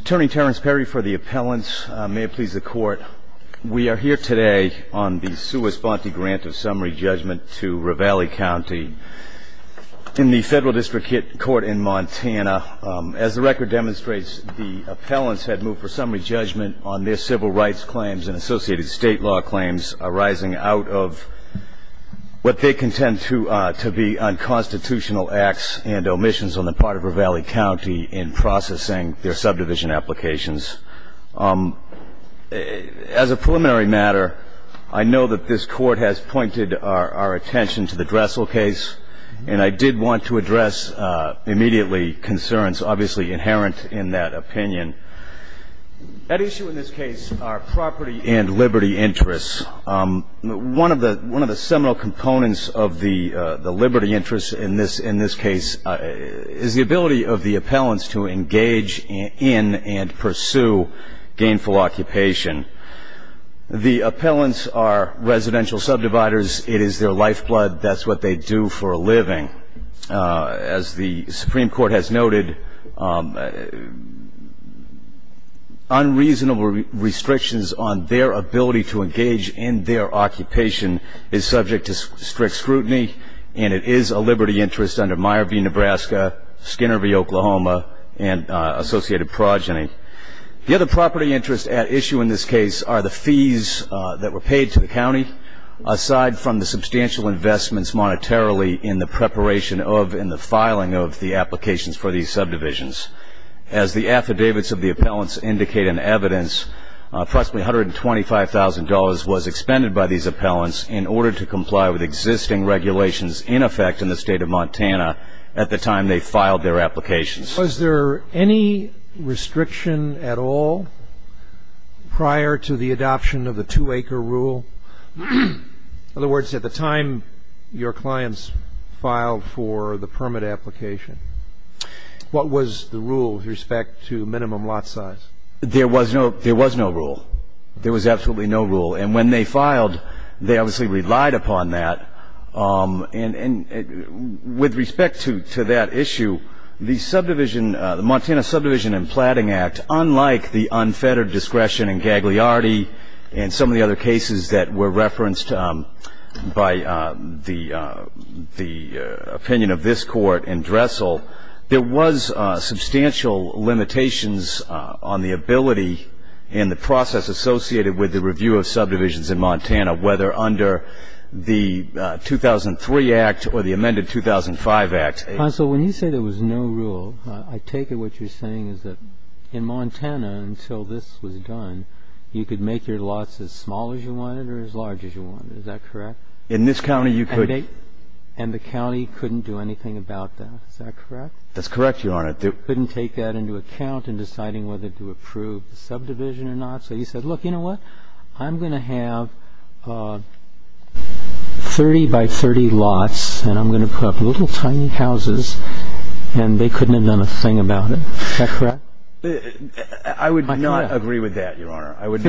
Attorney Terrence Perry for the appellants. May it please the court, we are here today on the sua sponte grant of summary judgment to Ravalli County in the federal district court in Montana. As the record demonstrates, the appellants had moved for summary judgment on their civil rights claims and associated state law claims arising out of what they contend to be unconstitutional acts and omissions on the part of Ravalli County in processing their subdivision applications. As a preliminary matter, I know that this court has pointed our attention to the Dressel case, and I did want to address immediately concerns obviously inherent in that opinion. At issue in this case are property and liberty interests. One of the seminal components of the liberty interests in this case is the ability of the appellants to engage in and pursue gainful occupation. The appellants are residential subdividers. It is their lifeblood. That's what they do for a living. As the Supreme Court has noted, unreasonable restrictions on their ability to engage in their occupation is subject to and associated progeny. The other property interest at issue in this case are the fees that were paid to the county, aside from the substantial investments monetarily in the preparation of and the filing of the applications for these subdivisions. As the affidavits of the appellants indicate in evidence, approximately $125,000 was expended by these appellants in order to comply with existing regulations in effect in the state of Montana at the time they filed their applications. Was there any restriction at all prior to the adoption of the two-acre rule? In other words, at the time your clients filed for the permit application, what was the rule with respect to minimum lot size? There was no rule. There was absolutely no rule. And when they filed, they obviously relied upon that. And with respect to that issue, the Montana Subdivision and Platting Act, unlike the unfettered discretion in Gagliardi and some of the other cases that were referenced by the opinion of this Court in Dressel, there was substantial limitations on the ability and the process associated with the review of subdivisions in Montana, whether under the 2003 Act or the amended 2005 Act. Counsel, when you say there was no rule, I take it what you're saying is that in Montana until this was done, you could make your lots as small as you wanted or as large as you wanted. Is that correct? In this county, you could. And the county couldn't do anything about that. Is that correct? That's correct, Your Honor. They couldn't take that into account in deciding whether to approve the subdivision or not. So you said, look, you know what? I'm going to have 30 by 30 lots, and I'm going to put up little tiny houses, and they couldn't have done a thing about it. Is that correct? I would not agree with that, Your Honor. I would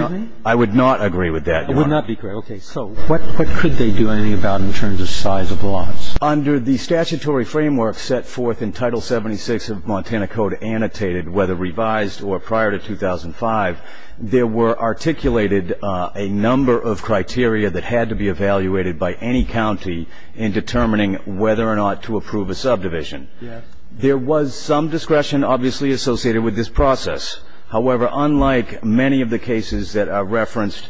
not agree with that, Your Honor. It would not be correct. Okay. So what could they do anything about in terms of size of the lots? Under the statutory framework set forth in Title 76 of Montana Code, annotated whether revised or prior to 2005, there were articulated a number of criteria that had to be evaluated by any county in determining whether or not to approve a subdivision. There was some discretion, obviously, associated with this process. However, unlike many of the cases that are referenced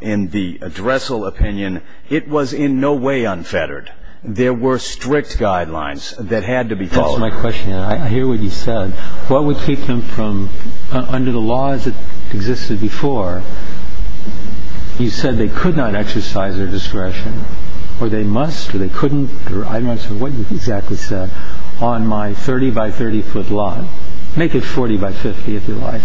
in the Dressel opinion, it was in no way unfettered. There were strict guidelines that had to be followed. That's my question. I hear what you said. What would keep them from, under the laws that existed before, you said they could not exercise their discretion, or they must, or they couldn't, or I'm not sure what you exactly said, on my 30 by 30-foot lot? Make it 40 by 50, if you like.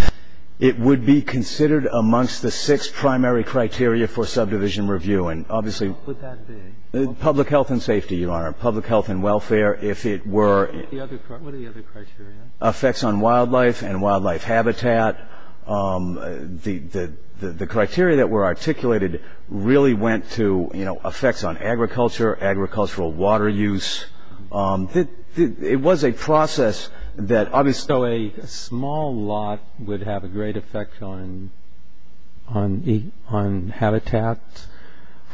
It would be considered amongst the six primary criteria for subdivision review, and obviously What would that be? Public health and safety, Your Honor. Public health and welfare, if it were What are the other criteria? Effects on wildlife and wildlife habitat. The criteria that were articulated really went to, you know, effects on agriculture, agricultural water use. It was a process that So a small lot would have a great effect on habitat,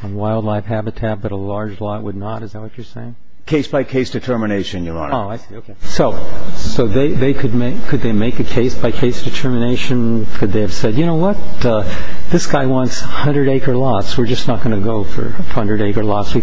on wildlife habitat, but a large lot would not? Is that what you're saying? Case by case determination, Your Honor. Oh, I see. Okay. So they could make a case by case determination. Could they have said, You know what? This guy wants 100-acre lots. We're just not going to go for 100-acre lots.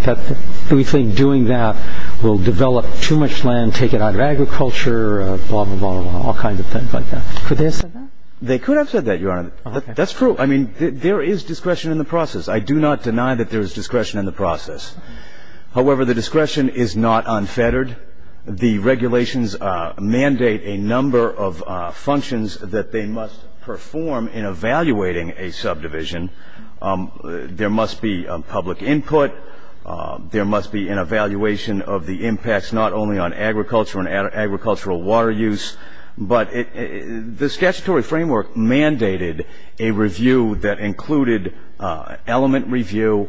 We think doing that will develop too much land, take it out of agriculture, blah, blah, blah, blah, all kinds of things like that. Could they have said that? They could have said that, Your Honor. That's true. I mean, there is discretion in the process. I do not deny that there is discretion in the process. However, the discretion is not unfettered. The regulations mandate a number of functions that they must perform in evaluating a subdivision. There must be public input. There must be an evaluation of the impacts not only on agriculture and agricultural water use, but the statutory framework mandated a review that included element review,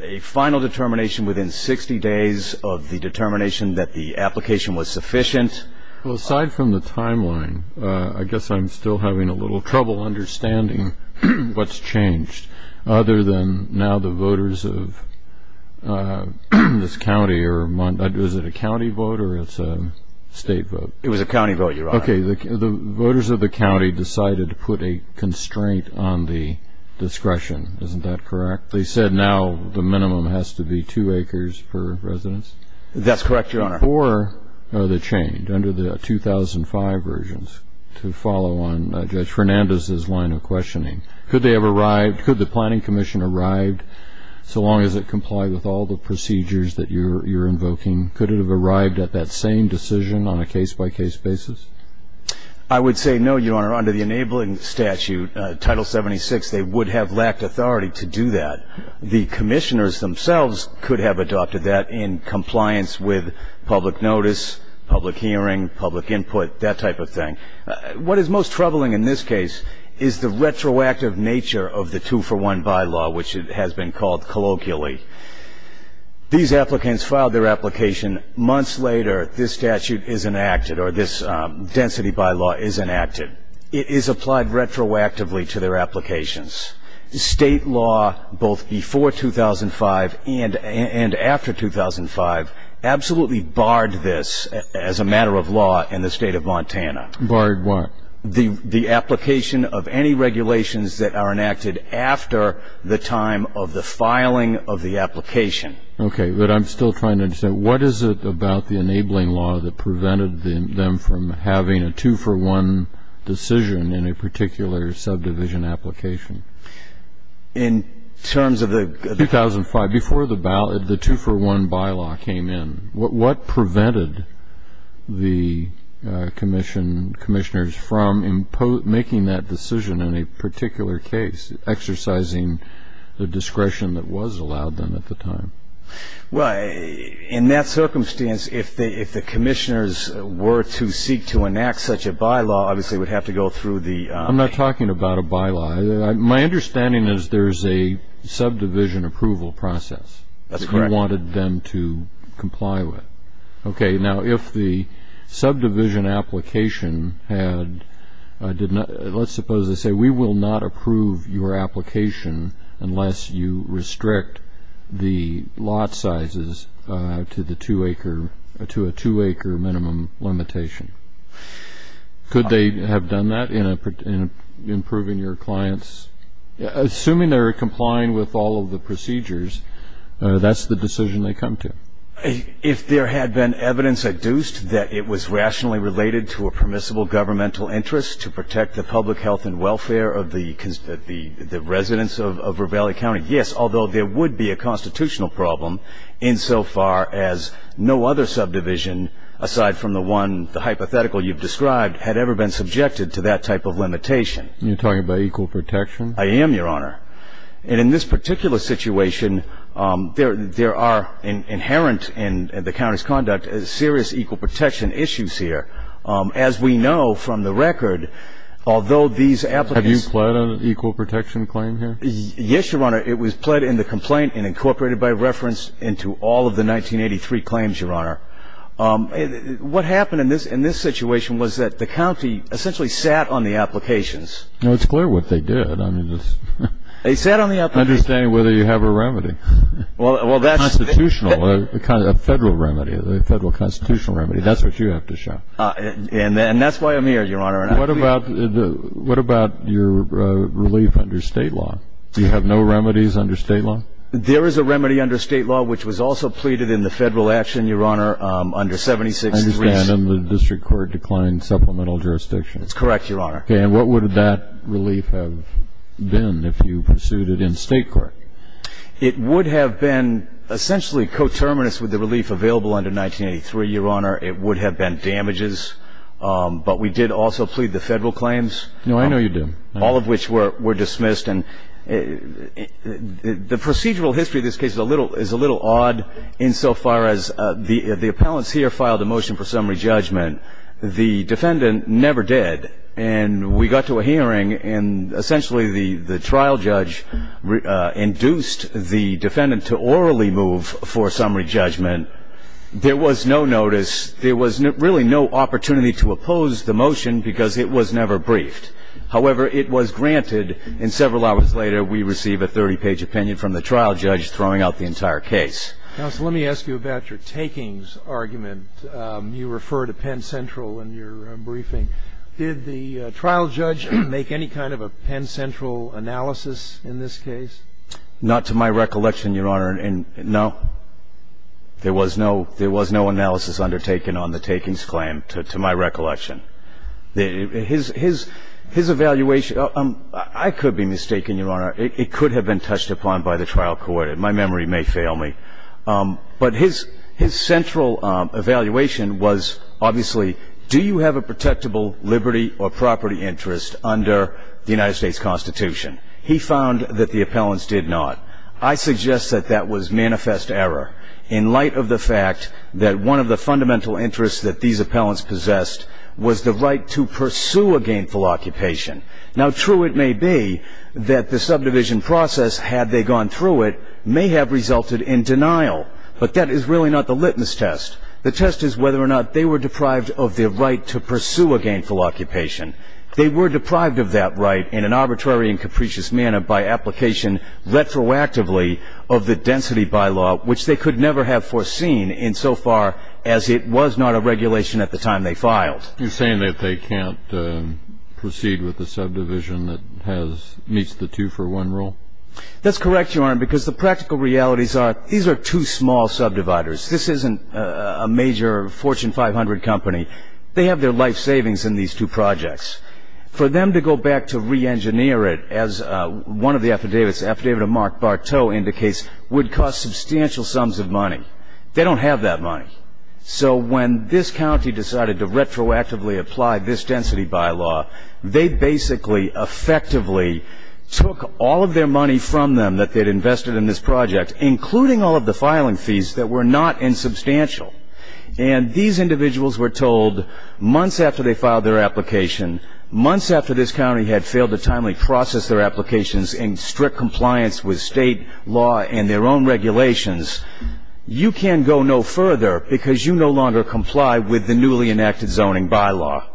a final determination within 60 days of the determination that the application was sufficient. Well, aside from the timeline, I guess I'm still having a little trouble understanding what's changed other than now the voters of this county or Mont... Was it a county vote or it's a state vote? It was a county vote, Your Honor. Okay. The voters of the county decided to put a constraint on the discretion. Isn't that correct? They said now the minimum has to be two acres per residence? That's correct, Your Honor. Before the change under the 2005 versions to follow on Judge Fernandez's line of questioning, could they have arrived, could the Planning Commission arrive so long as it complied with all the procedures that you're invoking? Could it have arrived at that same decision on a case-by-case basis? I would say no, Your Honor. Under the enabling statute, Title 76, they would have lacked authority to do that. The commissioners themselves could have adopted that in compliance with public notice, public hearing, public input, that type of thing. What is most troubling in this case is the retroactive nature of the two-for-one bylaw, which has been called colloquially. These applicants filed their application. Months later, this statute is enacted or this density bylaw is enacted. It is applied retroactively to their applications. State law, both before 2005 and after 2005, absolutely bogged down this as a matter of law in the State of Montana. Bogged what? The application of any regulations that are enacted after the time of the filing of the application. Okay. But I'm still trying to understand, what is it about the enabling law that prevented them from having a two-for-one decision in a particular subdivision application? In terms of the 2005, before the two-for-one bylaw came in, what prevented the commissioners from making that decision in a particular case, exercising the discretion that was allowed them at the time? In that circumstance, if the commissioners were to seek to enact such a bylaw, obviously would have to go through the I'm not talking about a bylaw. My understanding is there's a subdivision approval process that you wanted them to comply with. Okay. Now, if the subdivision application had, did not, let's suppose they say, we will not approve your application unless you restrict the lot sizes to the two-acre, to a two-acre minimum limitation. Could they have done that in a improving your clients? Assuming they're complying with all of the procedures, that's the decision they come to. If there had been evidence adduced that it was rationally related to a permissible governmental interest to protect the public health and welfare of the residents of Ravalli County, yes, although there would be a constitutional problem insofar as no other subdivision, aside from the one, the hypothetical you've described, had ever been subjected to that type of limitation. You're talking about equal protection? I am, Your Honor. And in this particular situation, there are inherent in the county's conduct serious equal protection issues here. As we know from the record, although these applicants Have you pled on an equal protection claim here? Yes, Your Honor. It was pled in the complaint and incorporated by reference into all of the 1983 claims, Your Honor. What happened in this situation was that the county essentially sat on the applications. It's clear what they did. They sat on the applications. Understand whether you have a remedy. A constitutional, a federal remedy, a federal constitutional remedy. That's what you have to show. And that's why I'm here, Your Honor. What about your relief under state law? Do you have no remedies under state law? There is a remedy under state law, which was also pleaded in the federal action, Your Honor, under 76-3. I understand. And the district court declined supplemental jurisdiction. That's correct, Your Honor. Okay. And what would that relief have been if you pursued it in state court? It would have been essentially coterminous with the relief available under 1983, Your Honor. It would have been damages. But we did also plead the federal claims. No, I know you did. All of which were dismissed. And the procedural history of this case is a little odd insofar as the appellants here filed a motion for summary judgment. The defendant never did. And we got to a hearing and essentially the trial judge induced the defendant to orally move for summary judgment. There was no notice. There was really no opportunity to oppose the motion because it was never briefed. However, it was granted. And several hours later, we receive a 30-page opinion from the trial judge throwing out the entire case. Counsel, let me ask you about your takings argument. You refer to Penn Central in your briefing. Did the trial judge make any kind of a Penn Central analysis in this case? Not to my recollection, Your Honor. And no, there was no analysis undertaken on the takings claim, to my recollection. His evaluation, I could be mistaken, Your Honor. It could have been touched upon by the trial court. My memory may fail me. But his central evaluation was obviously, do you have a protectable liberty or property interest under the United States Constitution? He found that the appellants did not. I suggest that that was manifest error in light of the fact that one of the fundamental interests that these appellants possessed was the right to pursue a gainful occupation. Now, true it may be that the subdivision process, had they gone through it, may have resulted in denial. But that is really not the litmus test. The test is whether or not they were deprived of their right to pursue a gainful occupation. They were deprived of that right in an arbitrary and capricious manner by application retroactively of the density bylaw, which they could never have foreseen in so far as it was not a regulation at the time they filed. You're saying that they can't proceed with the subdivision that has meets the two for one rule? That's correct, Your Honor, because the practical realities are these are two small subdividers. This isn't a major Fortune 500 company. They have their life savings in these two projects. For them to go back to re-engineer it, as one of the affidavits, Affidavit of Mark Barteau indicates, would cost substantial sums of money. They don't have that money. So when this county decided to retroactively apply this density bylaw, they basically effectively took all of their money from them that they'd invested in this project, including all of the filing fees that were not insubstantial. And these individuals were told months after they filed their application, months after this county had failed to timely process their applications in strict compliance with state law and their own regulations, you can't go no further because you no longer comply with the newly enacted zoning bylaw.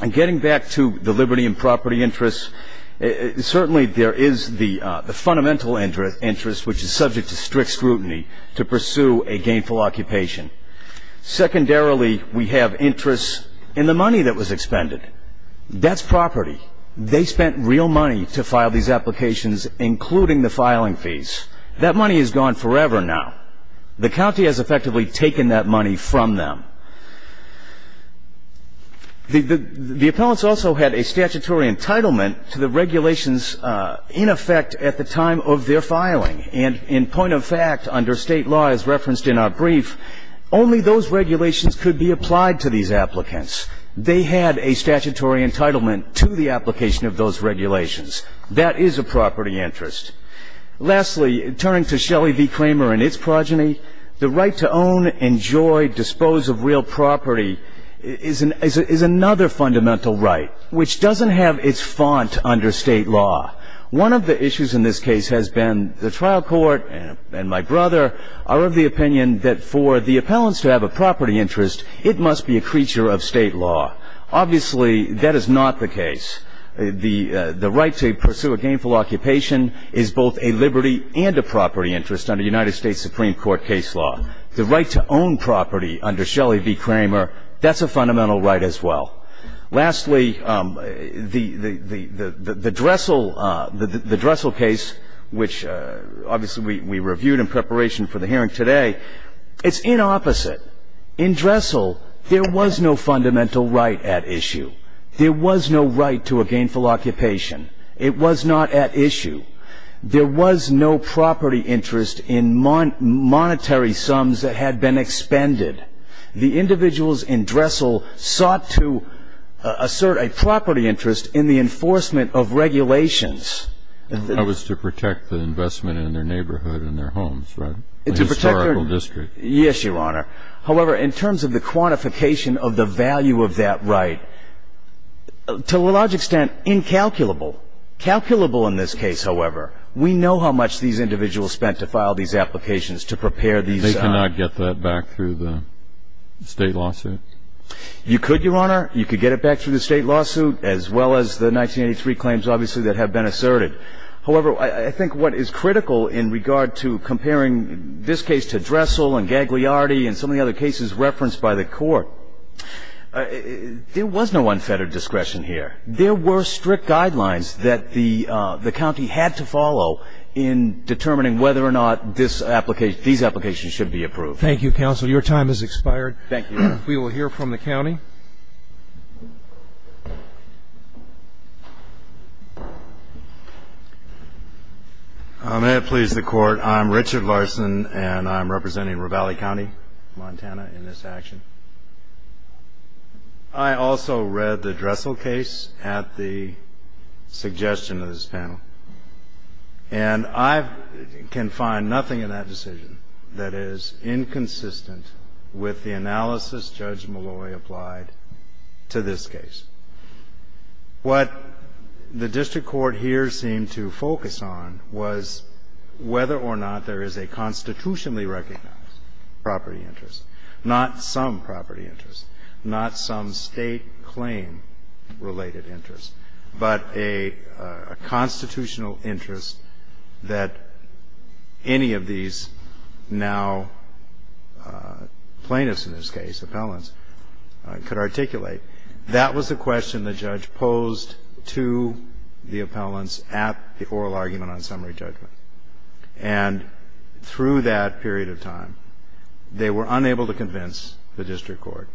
And getting back to the liberty and property interests, certainly there is the fundamental interest, which is subject to strict scrutiny to pursue a gainful occupation. Secondarily, we have interests in the money that was expended. That's property. They spent real money to file these applications, including the filing fees. That money is gone forever now. The county has effectively taken that money from them. The appellants also had a statutory entitlement to the regulations in effect at the time of their filing. And in point of fact, under state law, as referenced in our brief, only those regulations could be applied to these applicants. They had a statutory entitlement to the application of those regulations. That is a property interest. Lastly, turning to Shelley v. Kramer and its progeny, the right to own, enjoy, dispose of real property is another fundamental right, which doesn't have its font under state law. One of the issues in this case has been the trial court and my brother are of the opinion that for the appellants to have a property interest, it must be a creature of state law. Obviously, that is not the case. The right to pursue a gainful occupation is both a liberty and a property interest under United States Supreme Court case law. The right to own property under Shelley v. Kramer, that's a fundamental right as well. Lastly, the Dressel case, which obviously we reviewed in preparation for the hearing today, it's in opposite. In Dressel, there was no fundamental right at issue. There was no right to a gainful occupation. It was not at issue. There was no property interest in monetary sums that had been expended. The individuals in Dressel sought to assert a property interest in the enforcement of regulations. That was to protect the investment in their neighborhood and their homes, right? It's a historical district. Yes, Your Honor. However, in terms of the quantification of the value of that right, to a large extent, incalculable. Calculable in this case, however, we know how much these individuals spent to file these applications to prepare these. They cannot get that back through the state lawsuit. You could, Your Honor. You could get it back through the state lawsuit as well as the 1983 claims, obviously, that have been asserted. However, I think what is critical in regard to comparing this case to Dressel and Gagliardi and some of the other cases referenced by the court, there was no unfettered discretion here. There were strict guidelines that the county had to follow in determining whether or not this application, these applications should be approved. Thank you, counsel. Your time has expired. Thank you. We will hear from the county. May it please the court. I'm Richard Larson, and I'm representing Ravalli County, Montana, in this action. I also read the Dressel case at the suggestion of this panel, and I can find nothing in that decision that is inconsistent with the analysis Judge Malloy applied to this case. What the district court here seemed to focus on was whether or not there is a constitutionally recognized property interest, not some property interest, not some state claim-related interest, but a constitutional interest that any of these now plaintiffs, in this case appellants, could articulate. That was the question the judge posed to the appellants at the oral argument on summary judgment. And through that period of time, they were unable to convince the district court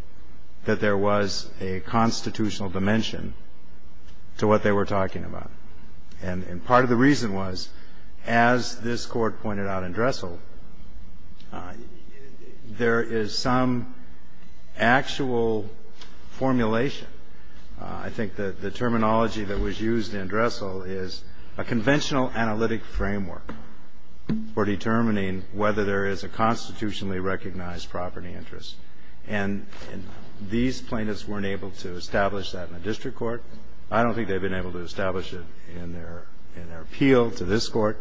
that there was a constitutional dimension to what they were talking about. And part of the reason was, as this court pointed out in Dressel, there is some actual formulation. I think that the terminology that was used in Dressel is a conventional analytic framework for determining whether there is a constitutionally recognized property interest. And these plaintiffs weren't able to establish that in a district court. I don't think they've been able to establish it in their appeal to this court.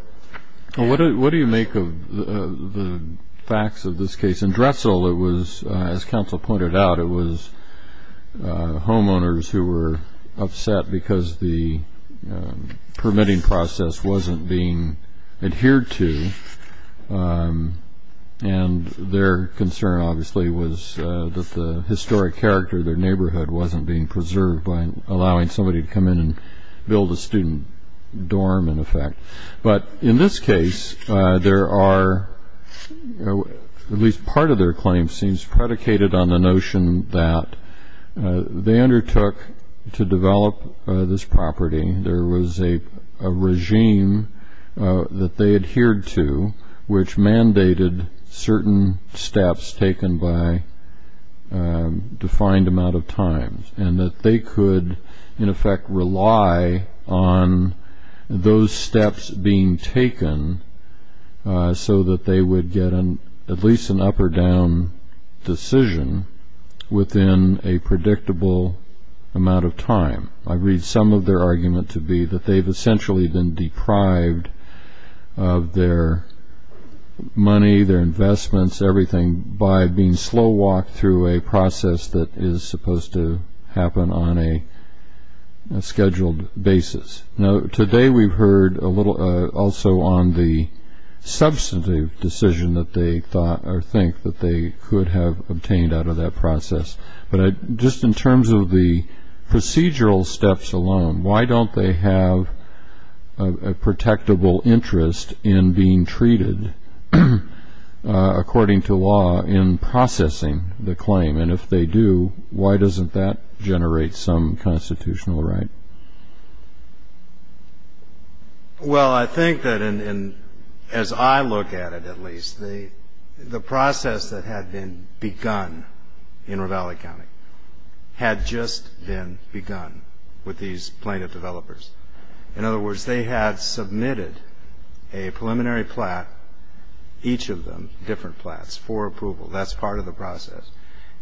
What do you make of the facts of this case? In Dressel, it was, as counsel pointed out, it was homeowners who were upset because the permitting process wasn't being adhered to. And their concern, obviously, was that the historic character of their neighborhood wasn't being preserved by allowing somebody to come in and build a student dorm, in effect. But in this case, there are, at least part of their claim seems predicated on the notion that they undertook to develop this property. There was a regime that they adhered to, which mandated certain steps taken by defined amount of time, and that they could, in effect, rely on those steps being taken so that they would get at least an up or down decision within a predictable amount of time. I read some of their argument to be that they've essentially been deprived of their money, their investments, everything, by being slow walked through a process that is supposed to happen on a scheduled basis. Now, today, we've heard a little also on the substantive decision that they thought or think that they could have obtained out of that process. But just in terms of the procedural steps alone, why don't they have a protectable interest in being treated, according to law, in processing the claim? And if they do, why doesn't that generate some constitutional right? Well, I think that, as I look at it, at least, the process that had been begun in Ravalli County had just been begun with these plaintiff developers. In other words, they had submitted a preliminary plat, each of them, different plats, for approval. That's part of the process.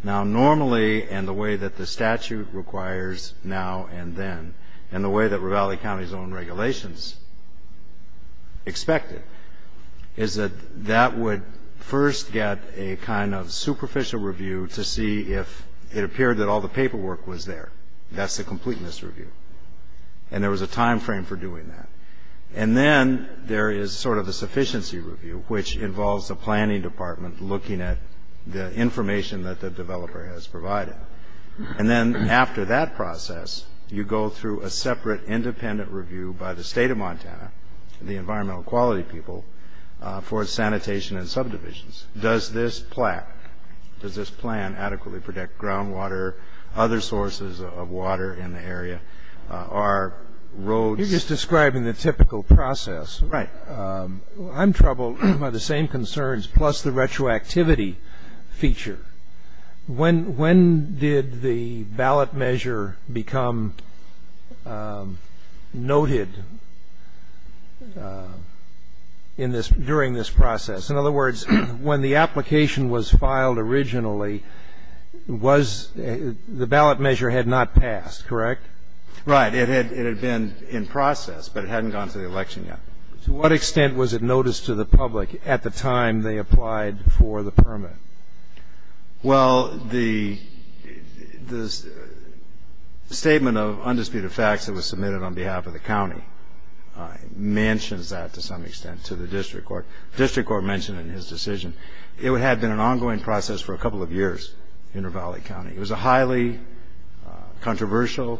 Now, normally, and the way that the statute requires now and then, and the way that Ravalli County's own regulations expect it, is that that would first get a kind of superficial review to see if it appeared that all the paperwork was there. That's a complete misreview. And there was a time frame for doing that. And then there is sort of a sufficiency review, which involves the planning department looking at the information that the developer has provided. And then after that process, you go through a separate independent review by the state of Montana, the environmental quality people, for sanitation and subdivisions. Does this plat, does this plan adequately protect groundwater, other sources of water, or roads? You're just describing the typical process. Right. I'm troubled by the same concerns, plus the retroactivity feature. When did the ballot measure become noted during this process? In other words, when the application was filed originally, the ballot measure had not passed, correct? Right. It had been in process, but it hadn't gone to the election yet. To what extent was it noticed to the public at the time they applied for the permit? Well, the statement of undisputed facts that was submitted on behalf of the county mentions that to some extent to the district court. The district court mentioned in his decision. It had been an ongoing process for a couple of years in Ravalli County. It was a highly controversial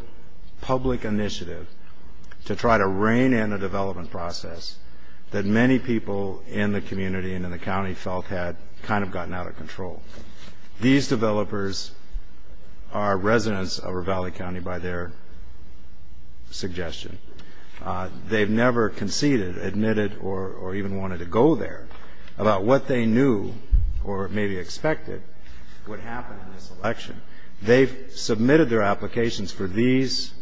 public initiative to try to rein in a development process that many people in the community and in the county felt had kind of gotten out of control. These developers are residents of Ravalli County by their suggestion. They've never conceded, admitted, or even wanted to go there about what they knew or maybe expected would happen in this election. They've submitted their applications for these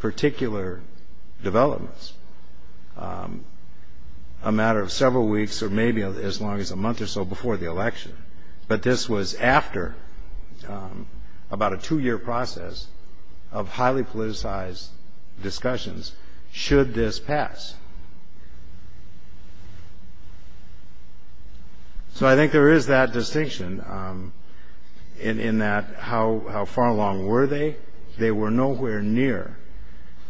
particular developments a matter of several weeks or maybe as long as a month or so before the election. But this was after about a two-year process of highly politicized discussions should this pass. So I think there is that distinction in that how far along were they? They were nowhere near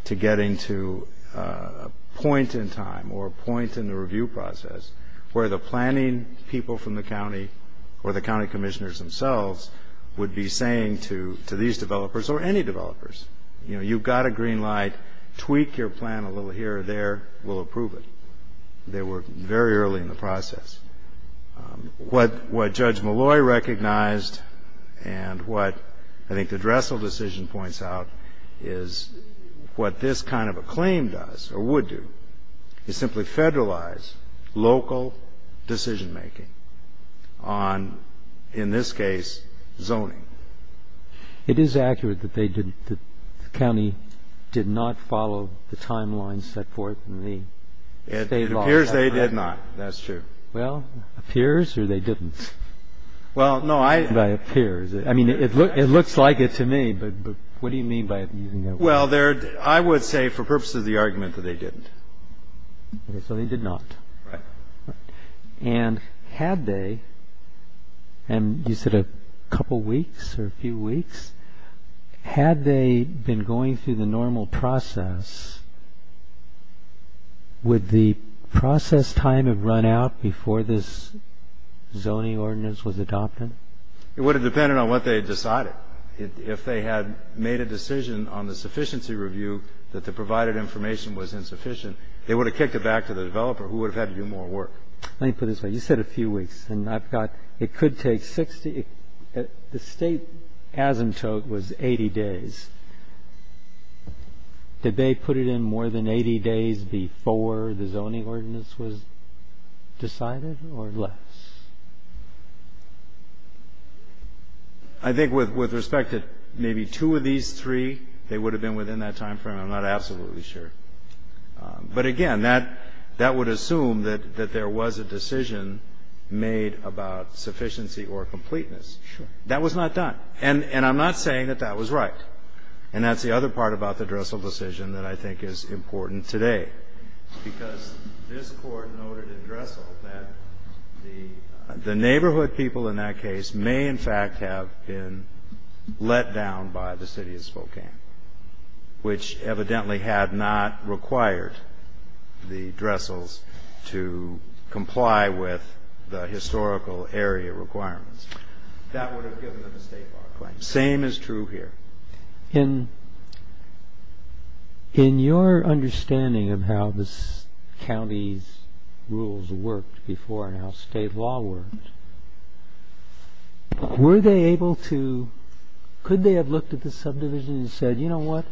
to getting to a point in time or a point in the review process where the planning people from the county or the county commissioners themselves would be saying to these developers or any developers, you know, you've got a green light, tweak your plan a little here or there, we'll approve it. They were very early in the process. What Judge Malloy recognized and what I think the Dressel decision points out is what this kind of a claim does or would do is simply federalize local decision making on, in this case, zoning. It is accurate that they didn't, that the county did not follow the timeline set forth in the state law. It appears they did not. That's true. Well, appears or they didn't? Well, no, I. It appears. I mean, it looks like it to me. But what do you mean by using that word? Well, I would say for purposes of the argument that they didn't. So they did not. Right. And had they, and you said a couple of weeks or a few weeks, had they been going through the normal process, would the process time have run out before this zoning ordinance was adopted? It would have depended on what they decided. If they had made a decision on the sufficiency review that the provided information was insufficient, they would have kicked it back to the developer who would have had to do more work. Let me put it this way. You said a few weeks and I've got, it could take 60, the state asymptote was 80 days. Did they put it in more than 80 days before the zoning ordinance was decided or less? I think with respect to maybe two of these three, they would have been within that timeframe. I'm not absolutely sure. But again, that would assume that there was a decision made about sufficiency or completeness. That was not done. And I'm not saying that that was right. And that's the other part about the Dressel decision that I think is important today. Because this court noted in Dressel that the neighborhood people in that case may in let down by the city of Spokane, which evidently had not required the Dressels to comply with the historical area requirements. That would have given them a state law claim. Same is true here. In your understanding of how the county's rules worked before and how state law worked, were they able to, could they have looked at the subdivision and said, you know what,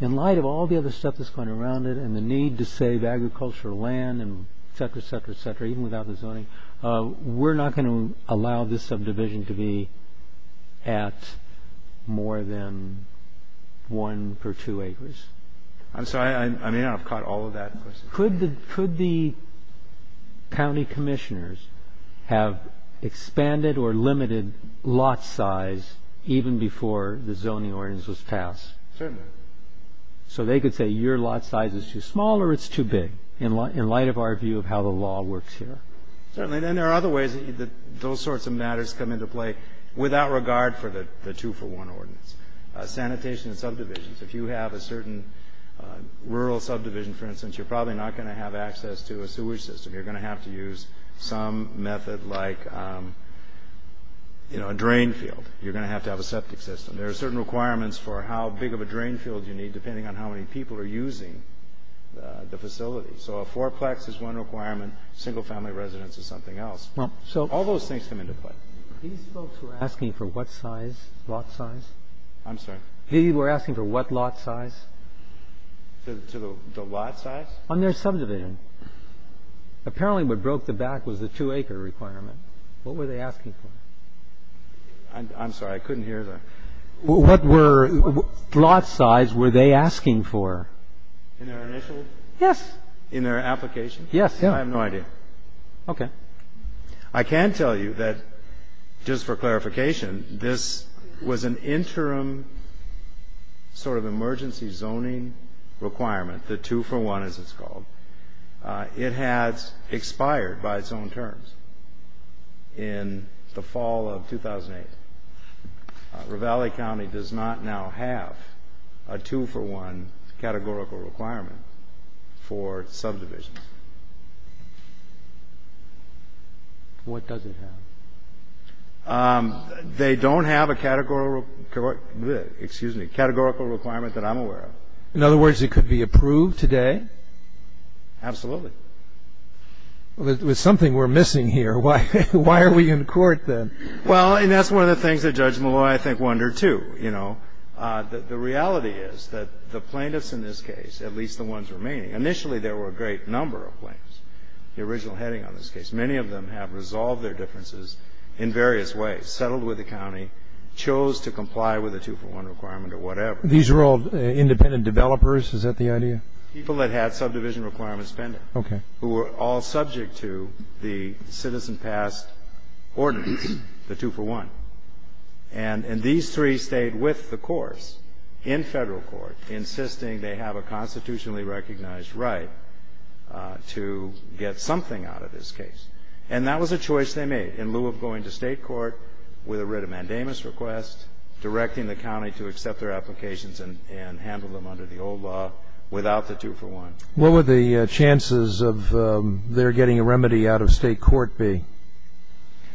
in light of all the other stuff that's going around it and the need to save agricultural land and et cetera, et cetera, et cetera, even without the zoning, we're not going to allow this subdivision to be at more than one per two acres. I'm sorry, I may not have caught all of that. Could the county commissioners have expanded or limited lot size even before the zoning ordinance was passed? So they could say your lot size is too small or it's too big in light of our view of how the law works here. Certainly. And there are other ways that those sorts of matters come into play without regard for the two for one ordinance. Sanitation and subdivisions. If you have a certain rural subdivision, for instance, you're probably not going to have access to a sewage system. You're going to have to use some method like, you know, a drain field. You're going to have to have a septic system. There are certain requirements for how big of a drain field you need, depending on how many people are using the facility. So a fourplex is one requirement. Single family residence is something else. Well, so all those things come into play. These folks were asking for what size lot size? I'm sorry? They were asking for what lot size? To the lot size? On their subdivision. Apparently what broke the back was the two acre requirement. What were they asking for? I'm sorry, I couldn't hear that. What were lot size were they asking for? In their initial? Yes. In their application? Yes. I have no idea. Okay. I can tell you that, just for clarification, this was an interim sort of emergency zoning requirement, the two for one as it's called. It has expired by its own terms in the fall of 2008. Ravalli County does not now have a two for one categorical requirement for subdivisions. What does it have? They don't have a categorical requirement that I'm aware of. In other words, it could be approved today? Absolutely. Well, there's something we're missing here. Why are we in court then? Well, and that's one of the things that Judge Malloy, I think, wondered too, you know, that the reality is that the plaintiffs in this case, at least the ones remaining, initially there were a great number of plaintiffs, the original heading on this case. Many of them have resolved their differences in various ways, settled with the county, chose to comply with the two for one requirement or whatever. These are all independent developers? Is that the idea? People that had subdivision requirements pending. Okay. Who were all subject to the citizen passed ordinance, the two for one. And these three stayed with the course in federal court, insisting they have a constitutionally recognized right to get something out of this case. And that was a choice they made in lieu of going to state court with a writ of mandamus request, directing the county to accept their applications and handle them under the old law without the two for one. What would the chances of their getting a remedy out of state court be?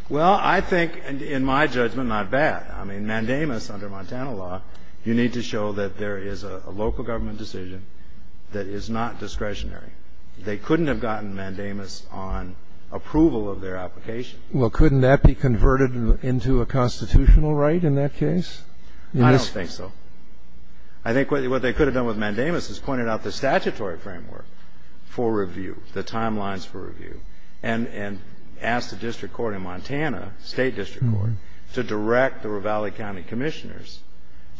Well, I think, in my judgment, not bad. I mean, mandamus under Montana law, you need to show that there is a local government decision that is not discretionary. They couldn't have gotten mandamus on approval of their application. Well, couldn't that be converted into a constitutional right in that case? I don't think so. I think what they could have done with mandamus is pointed out the statutory framework for review, the timelines for review, and asked the district court in Montana, state district court, to direct the Ravalli County commissioners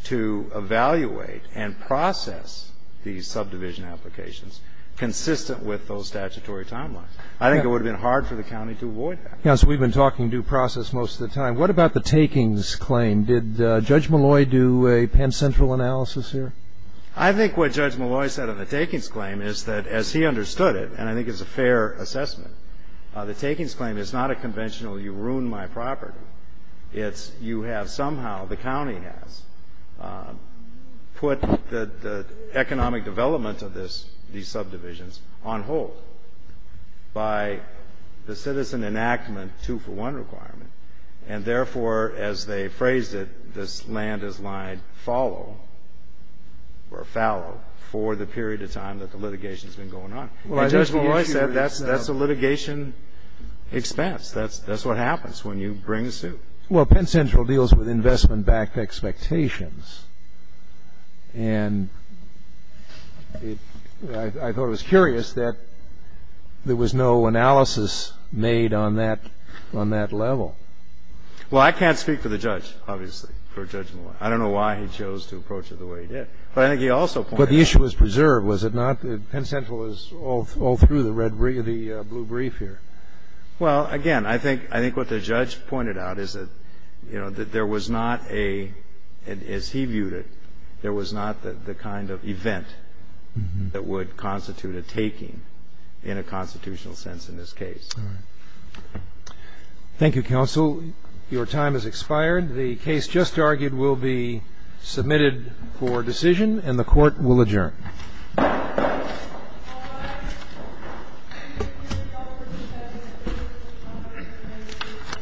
to evaluate and process the subdivision applications consistent with those statutory timelines. I think it would have been hard for the county to avoid that. Yeah, so we've been talking due process most of the time. What about the takings claim? Did Judge Malloy do a Penn Central analysis here? I think what Judge Malloy said on the takings claim is that, as he understood it, and I think it's a fair assessment, the takings claim is not a conventional you ruined my property. It's you have somehow, the county has, put the economic development of these subdivisions on hold by the citizen enactment two-for-one requirement, and therefore, as they phrased it, this land is lined fallow or fallow for the period of time that the litigation's been going on. Well, Judge Malloy said that's a litigation expense. That's what happens when you bring a suit. Well, Penn Central deals with investment-backed expectations, and I thought it was curious that there was no analysis made on that level. Well, I can't speak for the judge, obviously, for Judge Malloy. I don't know why he chose to approach it the way he did, but I think he also pointed out. But the issue was preserved, was it not? Penn Central is all through the blue brief here. Well, again, I think what the judge pointed out is that, you know, that there was not a, as he viewed it, there was not the kind of event that would constitute a taking in a constitutional sense in this case. Thank you, Counsel. Your time has expired. The case just argued will be submitted for decision, and the Court will adjourn.